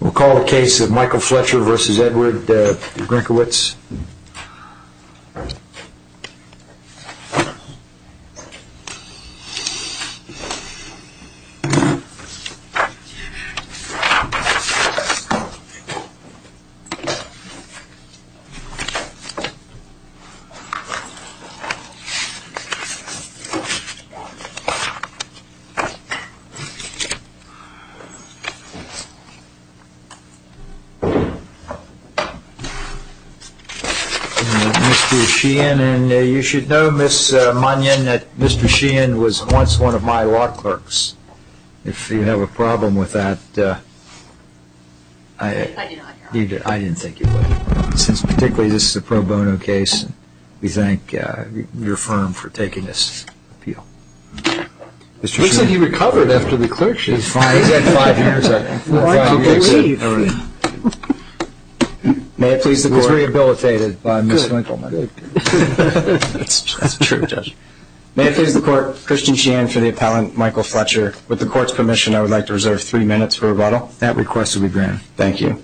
We'll call the case of Michael Fletcher v. Edward Grynkewicz. Mr. Sheehan, you should know Ms. Monion that Mr. Sheehan was once one of my law clerks. If you have a problem with that, I didn't think you would. Since particularly this is a pro bono case, we thank your firm for taking this appeal. Mr. Sheehan. He said he recovered after the clerkship. He's had five years. Well, I believe. May it please the court. He was rehabilitated by Ms. Grynkewicz. That's true, Judge. May it please the court. Christian Sheehan for the appellant, Michael Fletcher. With the court's permission, I would like to reserve three minutes for rebuttal. That request will be granted. Thank you.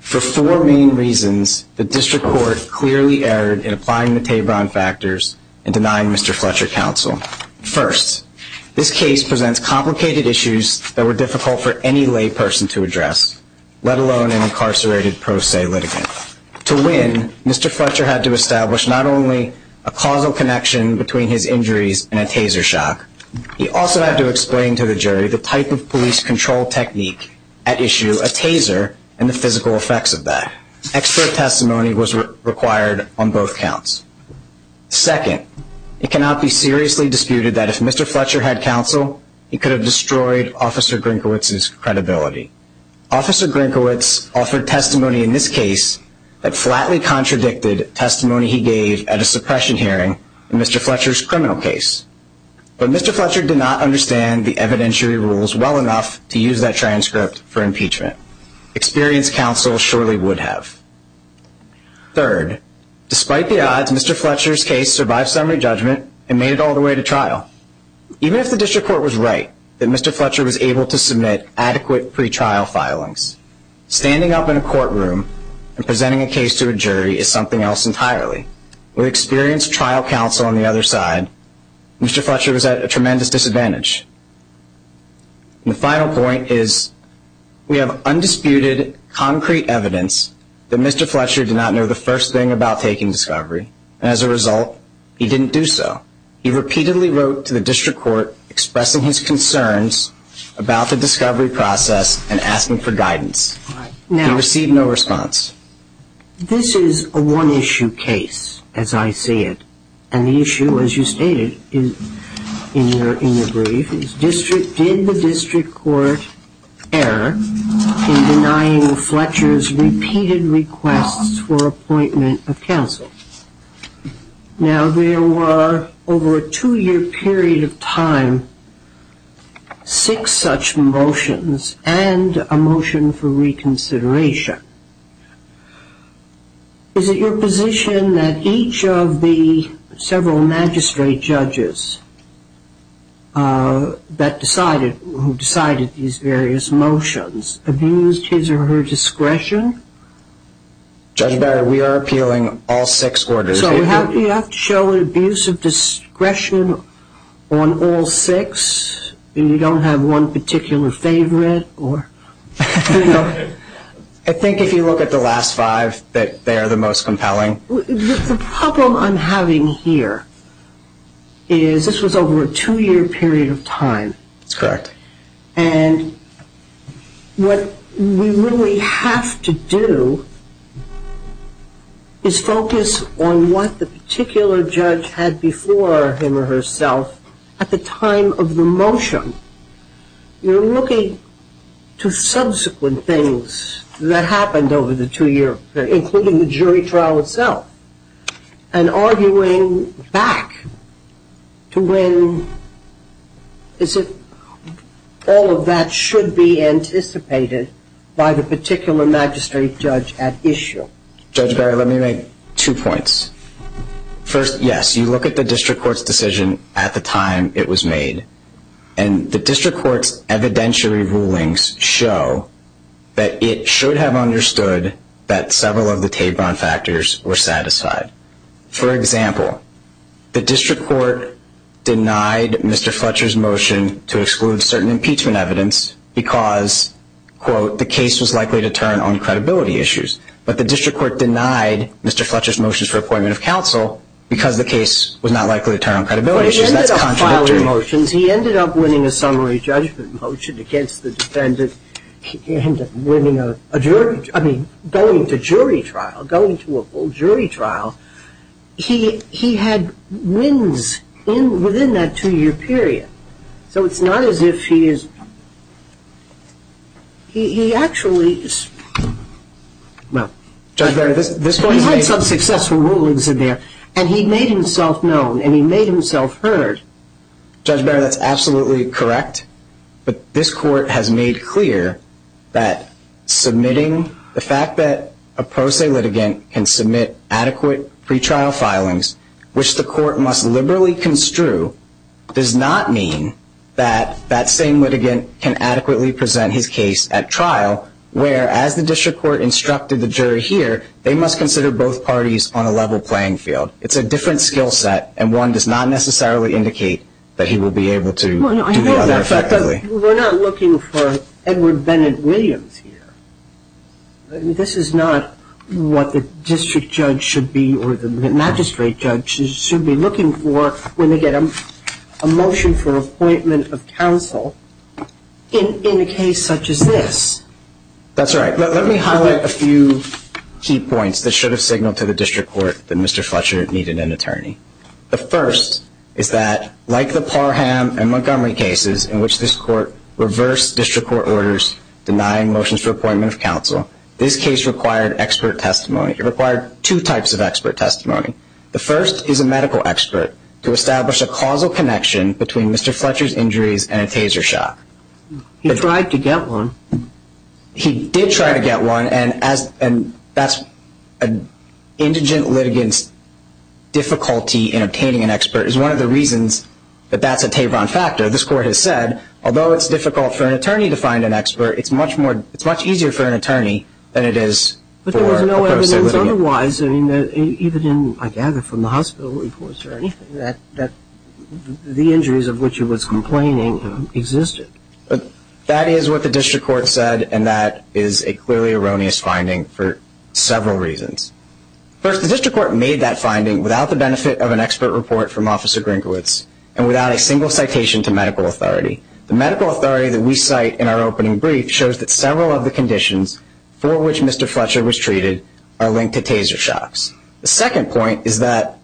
For four main reasons, the district court clearly erred in applying the Tabron factors and denying Mr. Fletcher counsel. First, this case presents complicated issues that were difficult for any lay person to address, let alone an incarcerated pro se litigant. To win, Mr. Fletcher had to establish not only a causal connection between his injuries and a taser shock, he also had to explain to the jury the type of police control technique at issue, a taser, and the physical effects of that. Extra testimony was required on both counts. Second, it cannot be seriously disputed that if Mr. Fletcher had counsel, he could have destroyed Officer Grynkewicz's credibility. Officer Grynkewicz offered testimony in this case that flatly contradicted testimony he gave at a suppression hearing in Mr. Fletcher's criminal case. But Mr. Fletcher did not understand the evidentiary rules well enough to use that transcript for impeachment. Experienced counsel surely would have. Third, despite the odds, Mr. Fletcher's case survived summary judgment and made it all the way to trial. Even if the district court was right that Mr. Fletcher was able to submit adequate pretrial filings, standing up in a courtroom and presenting a case to a jury is something else entirely. With experienced trial counsel on the other side, Mr. Fletcher was at a tremendous disadvantage. The final point is we have undisputed, concrete evidence that Mr. Fletcher did not know the first thing about taking discovery, and as a result, he didn't do so. He repeatedly wrote to the district court expressing his concerns about the discovery process and asking for guidance. He received no response. This is a one-issue case, as I see it, and the issue, as you stated in your brief, is did the district court err in denying Fletcher's repeated requests for appointment of counsel? Now, there were, over a two-year period of time, six such motions and a motion for reconsideration. Is it your position that each of the several magistrate judges who decided these various motions abused his or her discretion? Judge Barrett, we are appealing all six orders. So you have to show an abuse of discretion on all six, and you don't have one particular favorite? I think if you look at the last five, that they are the most compelling. The problem I'm having here is this was over a two-year period of time. That's correct. And what we really have to do is focus on what the particular judge had before him or herself at the time of the motion. You're looking to subsequent things that happened over the two-year period, including the jury trial itself, and arguing back to when all of that should be anticipated by the particular magistrate judge at issue. Judge Barrett, let me make two points. First, yes, you look at the district court's decision at the time it was made, and the district court's evidentiary rulings show that it should have understood that several of the Tabron factors were satisfied. For example, the district court denied Mr. Fletcher's motion to exclude certain impeachment evidence because, quote, the case was likely to turn on credibility issues. But the district court denied Mr. Fletcher's motion for appointment of counsel because the case was not likely to turn on credibility issues. That's contrary. He ended up filing motions. He ended up winning a summary judgment motion against the defendant. He ended up winning a jury – I mean, going to jury trial, going to a full jury trial. He had wins within that two-year period. So it's not as if he is – he actually – well, he had some successful rulings in there, and he made himself known, and he made himself heard. Judge Barrett, that's absolutely correct. But this court has made clear that submitting – the fact that a pro se litigant can submit adequate pretrial filings, which the court must liberally construe, does not mean that that same litigant can adequately present his case at trial, where, as the district court instructed the jury here, they must consider both parties on a level playing field. It's a different skill set, and one does not necessarily indicate that he will be able to do the other effectively. Well, I know that, but we're not looking for Edward Bennett Williams here. This is not what the district judge should be or the magistrate judge should be looking for when they get a motion for appointment of counsel in a case such as this. That's right. Let me highlight a few key points that should have signaled to the district court that Mr. Fletcher needed an attorney. The first is that, like the Parham and Montgomery cases in which this court reversed district court orders denying motions for appointment of counsel, this case required expert testimony. It required two types of expert testimony. The first is a medical expert to establish a causal connection between Mr. Fletcher's injuries and a taser shot. He tried to get one. He did try to get one, and that's an indigent litigant's difficulty in obtaining an expert. It's one of the reasons that that's a tabron factor. This court has said, although it's difficult for an attorney to find an expert, it's much easier for an attorney than it is for a person. But there was no evidence otherwise. I gather from the hospital reports or anything that the injuries of which he was complaining existed. That is what the district court said, and that is a clearly erroneous finding for several reasons. First, the district court made that finding without the benefit of an expert report from Officer Grinkowitz and without a single citation to medical authority. The medical authority that we cite in our opening brief shows that several of the conditions for which Mr. Fletcher was treated are linked to taser shots. The second point is that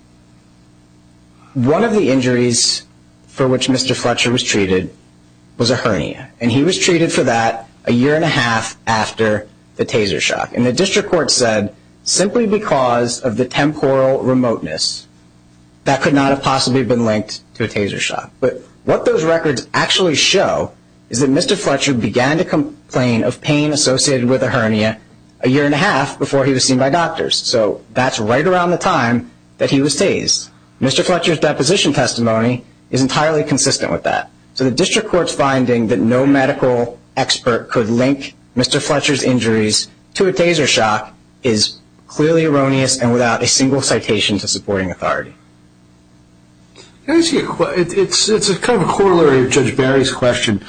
one of the injuries for which Mr. Fletcher was treated was a hernia, and he was treated for that a year and a half after the taser shot. And the district court said simply because of the temporal remoteness, that could not have possibly been linked to a taser shot. But what those records actually show is that Mr. Fletcher began to complain of pain associated with a hernia a year and a half before he was seen by doctors. So that's right around the time that he was tased. Mr. Fletcher's deposition testimony is entirely consistent with that. So the district court's finding that no medical expert could link Mr. Fletcher's injuries to a taser shot is clearly erroneous and without a single citation to supporting authority. It's kind of a corollary of Judge Barry's question.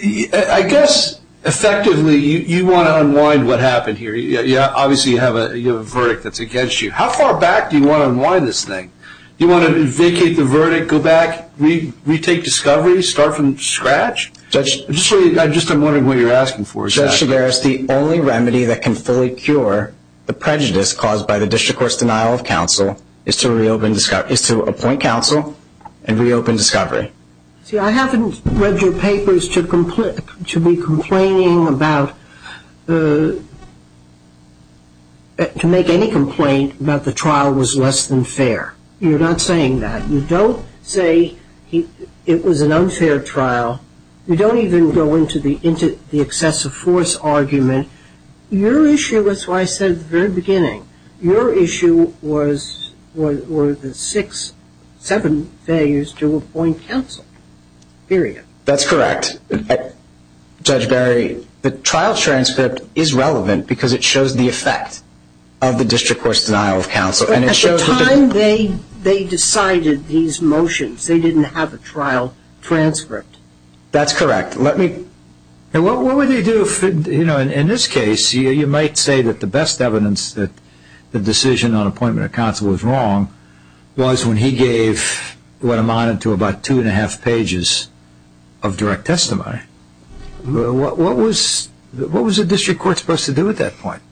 I guess effectively you want to unwind what happened here. Obviously you have a verdict that's against you. How far back do you want to unwind this thing? Do you want to vacate the verdict, go back, retake discovery, start from scratch? I'm just wondering what you're asking for. Judge Chigaris, the only remedy that can fully cure the prejudice caused by the district court's denial of counsel is to appoint counsel and reopen discovery. See, I haven't read your papers to be complaining about, to make any complaint about the trial was less than fair. You're not saying that. You don't say it was an unfair trial. You don't even go into the excessive force argument. Your issue was what I said at the very beginning. Your issue was the six, seven failures to appoint counsel, period. That's correct. Judge Barry, the trial transcript is relevant because it shows the effect of the district court's denial of counsel. At the time, they decided these motions. They didn't have a trial transcript. That's correct. What would they do? In this case, you might say that the best evidence that the decision on appointment of counsel was wrong was when he gave what amounted to about two and a half pages of direct testimony. What was the district court supposed to do at that point?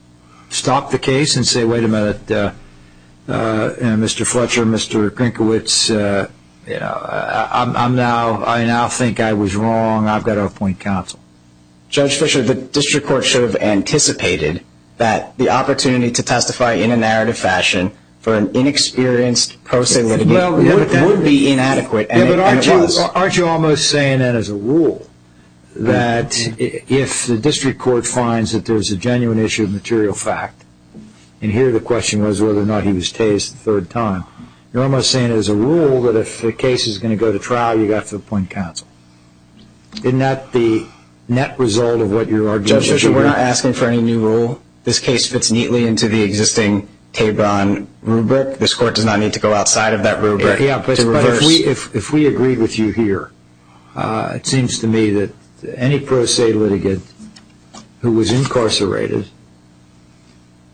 Stop the case and say, wait a minute, Mr. Fletcher, Mr. Krinkiewicz, I now think I was wrong. I've got to appoint counsel. Judge Fletcher, the district court should have anticipated that the opportunity to testify in a narrative fashion for an inexperienced person would be inadequate. Aren't you almost saying that as a rule that if the district court finds that there's a genuine issue of material fact, and here the question was whether or not he was tased the third time, you're almost saying as a rule that if the case is going to go to trial, you've got to appoint counsel. Isn't that the net result of what you're arguing? Judge Fletcher, we're not asking for any new rule. This case fits neatly into the existing Tebron rubric. This court does not need to go outside of that rubric to reverse. But if we agree with you here, it seems to me that any pro se litigant who was incarcerated,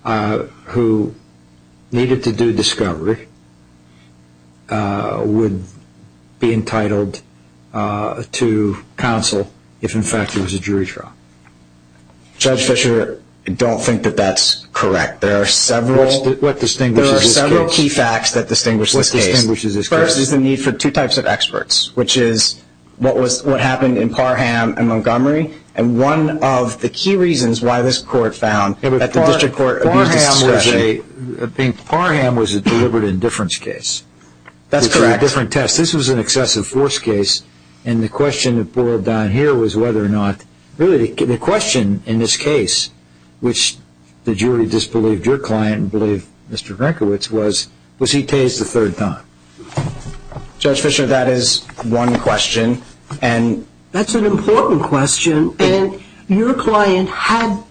who needed to do discovery, would be entitled to counsel if, in fact, it was a jury trial. Judge Fletcher, I don't think that that's correct. There are several key facts that distinguish this case. The first is the need for two types of experts, which is what happened in Parham and Montgomery, and one of the key reasons why this court found that the district court abused its discretion. Parham was a deliberate indifference case. That's correct. It was a different test. This was an excessive force case, and the question that boiled down here was whether or not, Really, the question in this case, which the jury disbelieved your client, and believed Mr. Grinkowitz, was, was he tased a third time? Judge Fletcher, that is one question. That's an important question, and your client had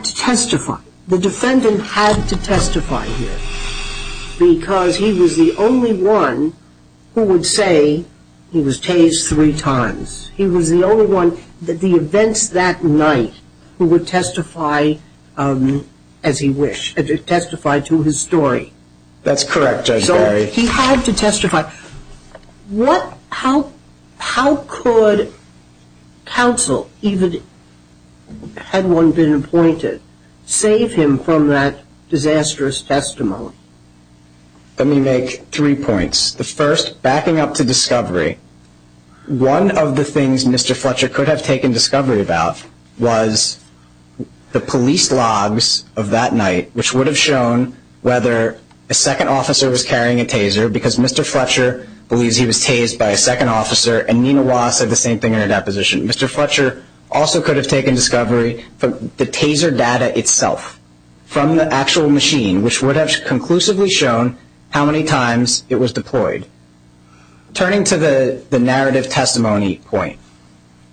to testify. The defendant had to testify here because he was the only one who would say he was tased three times. He was the only one at the events that night who would testify as he wished, testify to his story. That's correct, Judge Barry. He had to testify. How could counsel, even had one been appointed, save him from that disastrous testimony? Let me make three points. The first, backing up to discovery. One of the things Mr. Fletcher could have taken discovery about was the police logs of that night, which would have shown whether a second officer was carrying a taser, because Mr. Fletcher believes he was tased by a second officer, and Nina Wah said the same thing in her deposition. Mr. Fletcher also could have taken discovery from the taser data itself, from the actual machine, which would have conclusively shown how many times it was deployed. Turning to the narrative testimony point,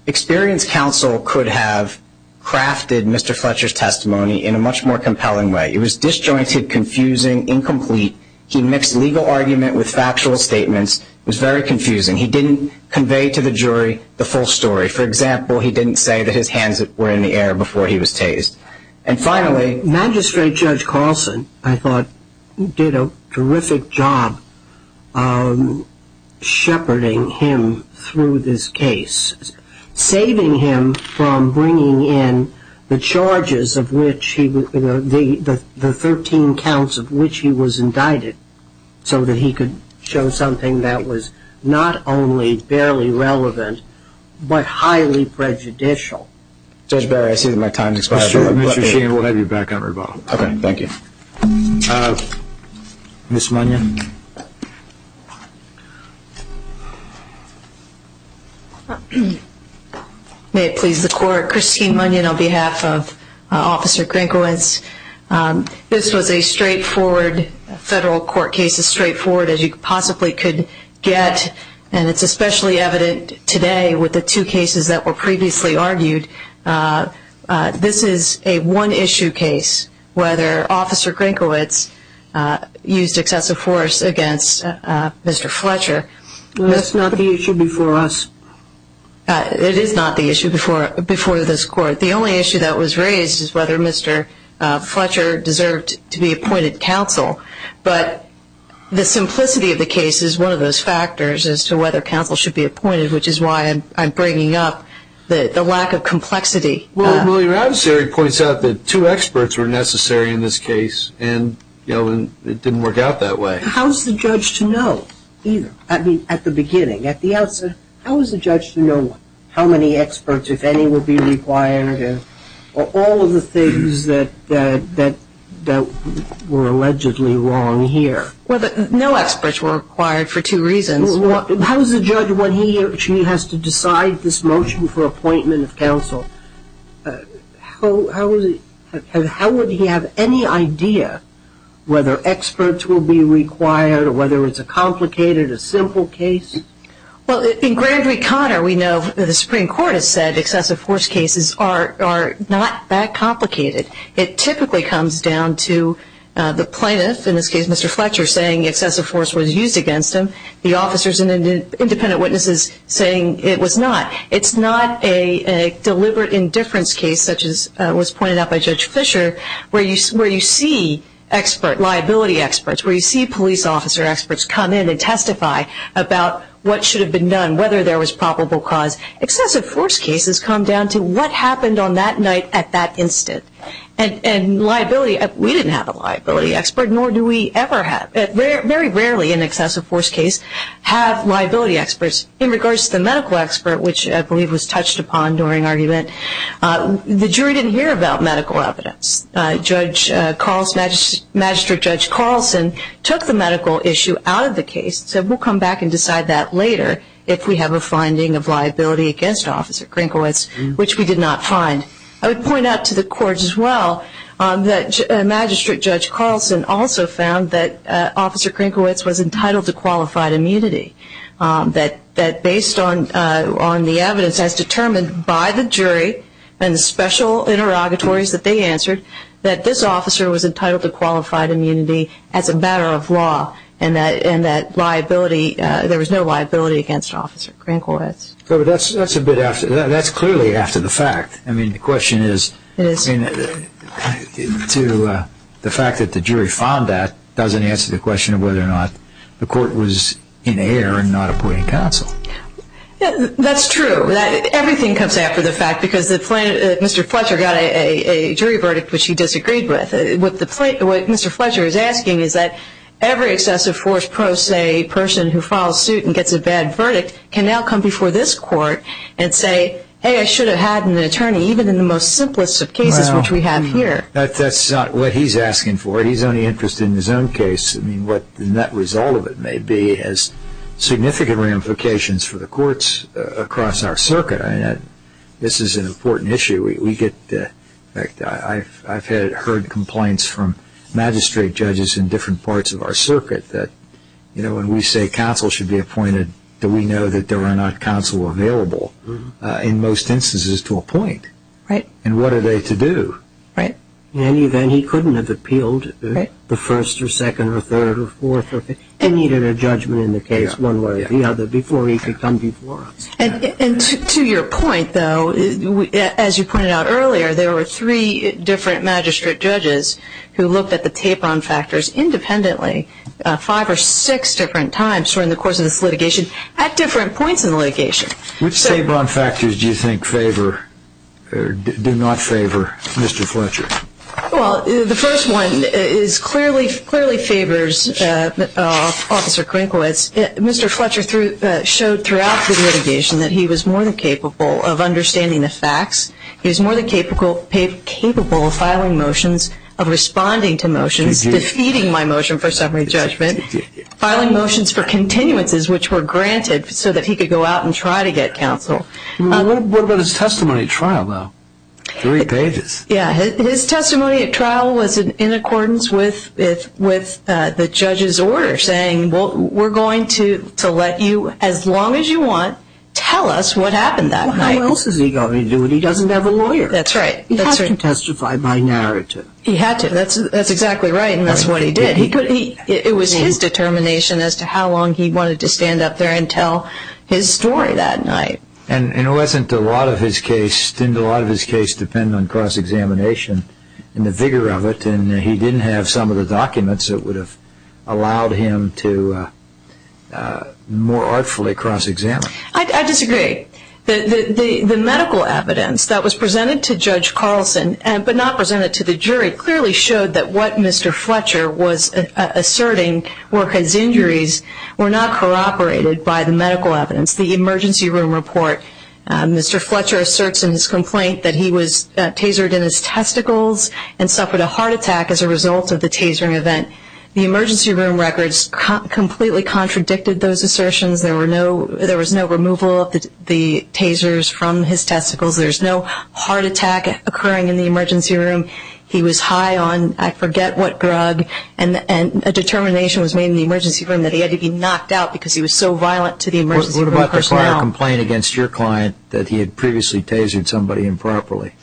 experience counsel could have crafted Mr. Fletcher's testimony in a much more compelling way. It was disjointed, confusing, incomplete. He mixed legal argument with factual statements. It was very confusing. He didn't convey to the jury the full story. For example, he didn't say that his hands were in the air before he was tased. And finally, Magistrate Judge Carlson, I thought, did a terrific job shepherding him through this case, saving him from bringing in the charges, the 13 counts of which he was indicted, so that he could show something that was not only barely relevant, but highly prejudicial. Judge Barry, I see that my time has expired. Mr. Sheehan, we'll have you back on rebuttal. Okay, thank you. Ms. Munion. May it please the Court. Christine Munion on behalf of Officer Crankowitz. This was a straightforward federal court case, as straightforward as you possibly could get, and it's especially evident today with the two cases that were previously argued. This is a one-issue case, whether Officer Crankowitz used excessive force against Mr. Fletcher. That's not the issue before us. It is not the issue before this Court. The only issue that was raised is whether Mr. Fletcher deserved to be appointed counsel. But the simplicity of the case is one of those factors as to whether counsel should be appointed, which is why I'm bringing up the lack of complexity. Well, William Adversary points out that two experts were necessary in this case, and it didn't work out that way. How was the judge to know either? I mean, at the beginning, at the outset, how was the judge to know how many experts, if any, all of the things that were allegedly wrong here? Well, no experts were required for two reasons. How does the judge, when he or she has to decide this motion for appointment of counsel, how would he have any idea whether experts will be required or whether it's a complicated, a simple case? Well, in Grand Reconnoir, we know the Supreme Court has said excessive force cases are not that complicated. It typically comes down to the plaintiff, in this case Mr. Fletcher, saying excessive force was used against him, the officers and independent witnesses saying it was not. It's not a deliberate indifference case, such as was pointed out by Judge Fisher, where you see liability experts, where you see police officer experts come in and testify about what should have been done, whether there was probable cause. Excessive force cases come down to what happened on that night at that instant. And liability, we didn't have a liability expert, nor do we ever have. Very rarely an excessive force case have liability experts. In regards to the medical expert, which I believe was touched upon during argument, the jury didn't hear about medical evidence. Judge Carlson, Magistrate Judge Carlson, took the medical issue out of the case and said we'll come back and decide that later if we have a finding of liability against Officer Krinkowitz, which we did not find. I would point out to the court as well that Magistrate Judge Carlson also found that Officer Krinkowitz was entitled to qualified immunity, that based on the evidence as determined by the jury and the special interrogatories that they answered, that this officer was entitled to qualified immunity as a matter of law and that there was no liability against Officer Krinkowitz. That's clearly after the fact. The question is to the fact that the jury found that doesn't answer the question of whether or not the court was in error in not appointing counsel. That's true. Everything comes after the fact because Mr. Fletcher got a jury verdict which he disagreed with. What Mr. Fletcher is asking is that every excessive force person who files suit and gets a bad verdict can now come before this court and say, hey, I should have had an attorney, even in the most simplest of cases which we have here. That's not what he's asking for. He's only interested in his own case. I mean, what the net result of it may be has significant ramifications for the courts across our circuit. This is an important issue. In fact, I've heard complaints from magistrate judges in different parts of our circuit that, you know, when we say counsel should be appointed, do we know that there are not counsel available in most instances to appoint? Right. And what are they to do? And he couldn't have appealed the first or second or third or fourth or fifth. He needed a judgment in the case one way or the other before he could come before us. And to your point, though, as you pointed out earlier, there were three different magistrate judges who looked at the tape-on factors independently, five or six different times during the course of this litigation at different points in the litigation. Which tape-on factors do you think favor or do not favor Mr. Fletcher? Well, the first one clearly favors Officer Krinkowitz. Mr. Fletcher showed throughout the litigation that he was more than capable of understanding the facts. He was more than capable of filing motions, of responding to motions, defeating my motion for summary judgment, filing motions for continuances which were granted so that he could go out and try to get counsel. What about his testimony at trial, though? Three pages. Yeah. His testimony at trial was in accordance with the judge's order saying, well, we're going to let you, as long as you want, tell us what happened that night. Well, how else is he going to do it? He doesn't have a lawyer. That's right. He had to testify by narrative. He had to. That's exactly right. And that's what he did. It was his determination as to how long he wanted to stand up there and tell his story that night. And it wasn't a lot of his case, didn't a lot of his case depend on cross-examination and the vigor of it, and he didn't have some of the documents that would have allowed him to more artfully cross-examine. I disagree. The medical evidence that was presented to Judge Carlson, but not presented to the jury, clearly showed that what Mr. Fletcher was asserting were his injuries were not corroborated by the medical evidence. The emergency room report, Mr. Fletcher asserts in his complaint that he was tasered in his testicles and suffered a heart attack as a result of the tasering event. The emergency room records completely contradicted those assertions. There was no removal of the tasers from his testicles. There's no heart attack occurring in the emergency room. He was high on, I forget what drug, and a determination was made in the emergency room that he had to be knocked out because he was so violent to the emergency room personnel. What about the prior complaint against your client that he had previously tasered somebody improperly?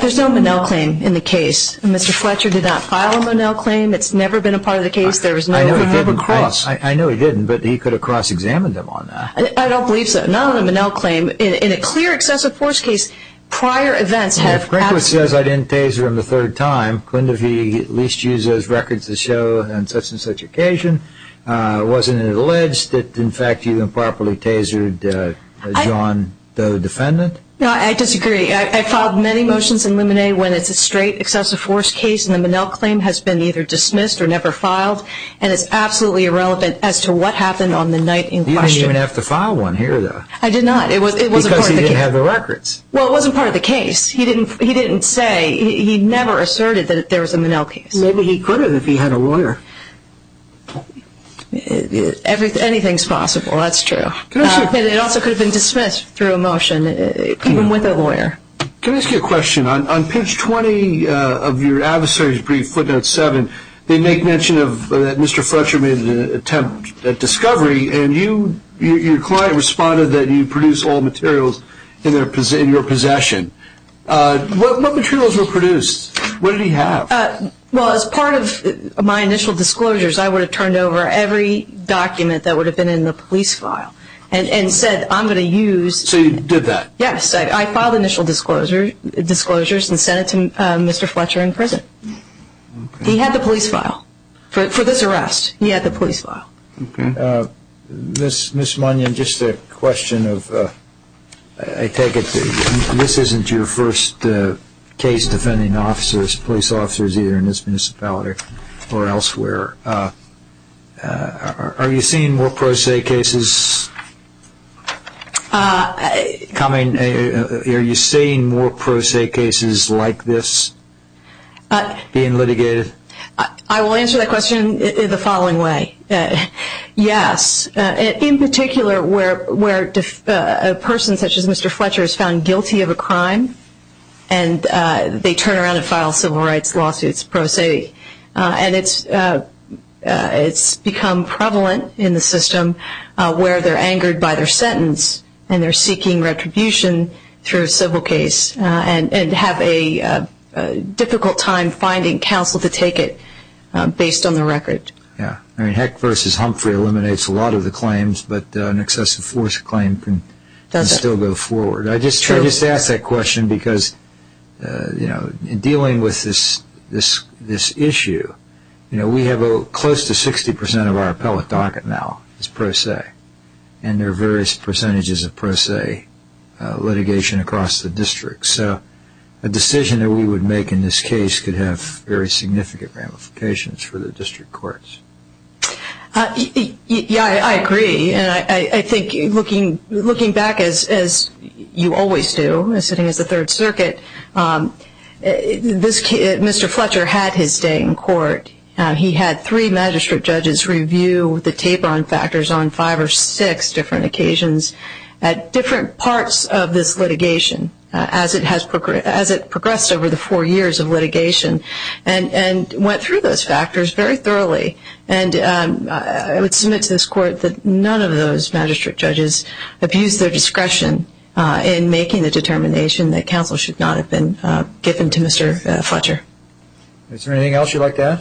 There's no Monell claim in the case. Mr. Fletcher did not file a Monell claim. It's never been a part of the case. I know he didn't, but he could have cross-examined them on that. I don't believe so. Not on the Monell claim. In a clear excessive force case, prior events have happened. If Franklin says I didn't taser him the third time, couldn't he at least use those records to show on such and such occasion? Wasn't it alleged that, in fact, you improperly tasered a John Doe defendant? No, I disagree. I filed many motions in Luminae when it's a straight excessive force case, and the Monell claim has been either dismissed or never filed, and it's absolutely irrelevant as to what happened on the night in question. You didn't even have to file one here, though. I did not. It was a part of the case. Because he didn't have the records. Well, it wasn't part of the case. He didn't say. He never asserted that there was a Monell case. Maybe he could have if he had a lawyer. Anything's possible. That's true. It also could have been dismissed through a motion, even with a lawyer. Can I ask you a question? On page 20 of your adversary's brief, footnote 7, they make mention that Mr. Fletcher made an attempt at discovery, and your client responded that you produce all materials in your possession. What materials were produced? What did he have? Well, as part of my initial disclosures, I would have turned over every document that would have been in the police file and said I'm going to use. So you did that? Yes. I filed initial disclosures and sent it to Mr. Fletcher in prison. He had the police file for this arrest. He had the police file. Okay. Ms. Monell, just a question of I take it this isn't your first case defending officers, police officers, either in this municipality or elsewhere. Are you seeing more pro se cases coming? Are you seeing more pro se cases like this being litigated? I will answer that question the following way. Yes. In particular, where a person such as Mr. Fletcher is found guilty of a crime and they turn around and file civil rights lawsuits pro se, and it's become prevalent in the system where they're angered by their sentence and they're seeking retribution through a civil case and have a difficult time finding counsel to take it based on the record. Yes. Heck versus Humphrey eliminates a lot of the claims, but an excessive force claim can still go forward. I just ask that question because in dealing with this issue, we have close to 60% of our appellate docket now is pro se, and there are various percentages of pro se litigation across the district. So a decision that we would make in this case could have very significant ramifications for the district courts. Yes, I agree. I think looking back, as you always do, sitting as the Third Circuit, Mr. Fletcher had his day in court. He had three magistrate judges review the taper-on factors on five or six different occasions at different parts of this litigation as it progressed over the four years of litigation and went through those factors very thoroughly. And I would submit to this court that none of those magistrate judges abused their discretion in making the determination that counsel should not have been given to Mr. Fletcher. Is there anything else you'd like to add?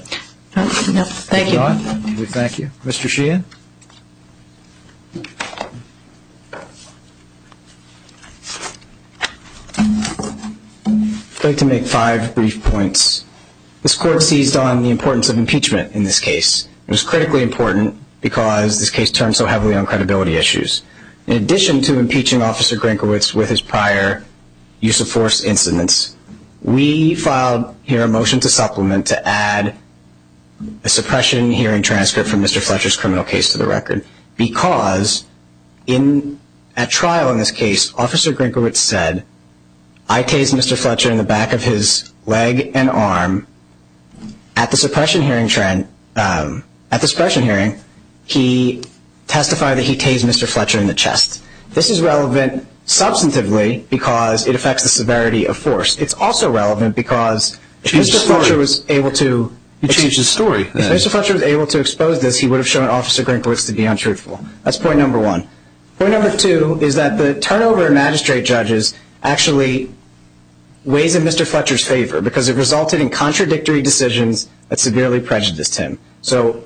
No, thank you. Thank you. Mr. Sheehan? I'd like to make five brief points. This court seized on the importance of impeachment in this case. It was critically important because this case turned so heavily on credibility issues. In addition to impeaching Officer Grankowitz with his prior use-of-force incidents, we filed here a motion to supplement to add a suppression hearing transcript from Mr. Fletcher's criminal case to the record because at trial in this case, Officer Grankowitz said, I tased Mr. Fletcher in the back of his leg and arm. At the suppression hearing, he testified that he tased Mr. Fletcher in the chest. This is relevant substantively because it affects the severity of force. It's also relevant because if Mr. Fletcher was able to expose this, he would have shown Officer Grankowitz to be untruthful. That's point number one. Point number two is that the turnover of magistrate judges actually weighs in Mr. Fletcher's favor because it resulted in contradictory decisions that severely prejudiced him. So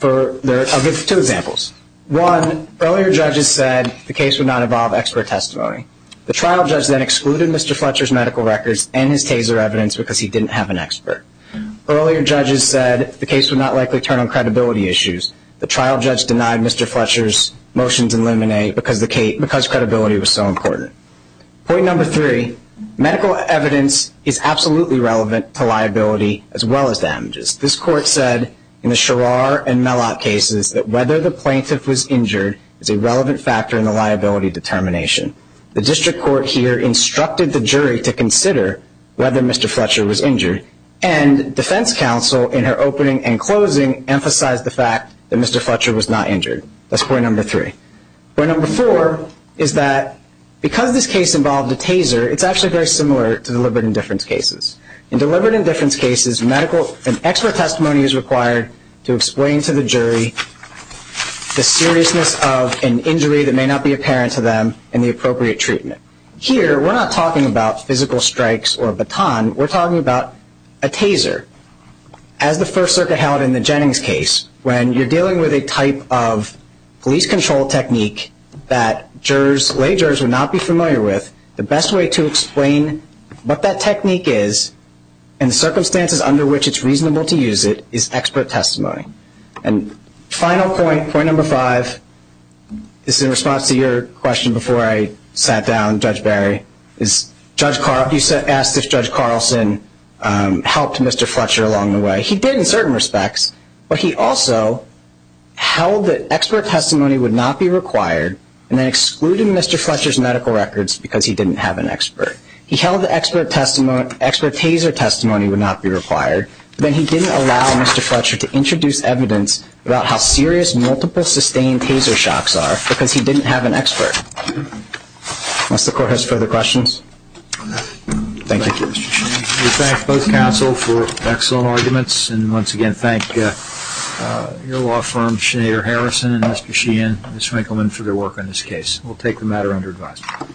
there are two examples. One, earlier judges said the case would not involve expert testimony. The trial judge then excluded Mr. Fletcher's medical records and his taser evidence because he didn't have an expert. Earlier judges said the case would not likely turn on credibility issues. The trial judge denied Mr. Fletcher's motions in limine because credibility was so important. Point number three, medical evidence is absolutely relevant to liability as well as damages. This court said in the Sherrar and Mellot cases that whether the plaintiff was injured is a relevant factor in the liability determination. The district court here instructed the jury to consider whether Mr. Fletcher was injured, and defense counsel in her opening and closing emphasized the fact that Mr. Fletcher was not injured. That's point number three. Point number four is that because this case involved a taser, it's actually very similar to deliberate indifference cases. In deliberate indifference cases, medical and expert testimony is required to explain to the jury the seriousness of an injury that may not be apparent to them and the appropriate treatment. Here, we're not talking about physical strikes or a baton. We're talking about a taser. As the First Circuit held in the Jennings case, when you're dealing with a type of police control technique that jurors, lay jurors would not be familiar with, the best way to explain what that technique is and the circumstances under which it's reasonable to use it is expert testimony. And final point, point number five, this is in response to your question before I sat down, Judge Barry, is you asked if Judge Carlson helped Mr. Fletcher along the way. He did in certain respects, but he also held that expert testimony would not be required and then excluded Mr. Fletcher's medical records because he didn't have an expert. He held that expert taser testimony would not be required, but then he didn't allow Mr. Fletcher to introduce evidence about how serious multiple sustained taser shocks are because he didn't have an expert. Unless the Court has further questions. Thank you. Thank you, Mr. Sheehan. We thank both counsel for excellent arguments and once again thank your law firm, Sinead Harrison and Mr. Sheehan and Ms. Winkleman for their work on this case. We'll take the matter under advisement.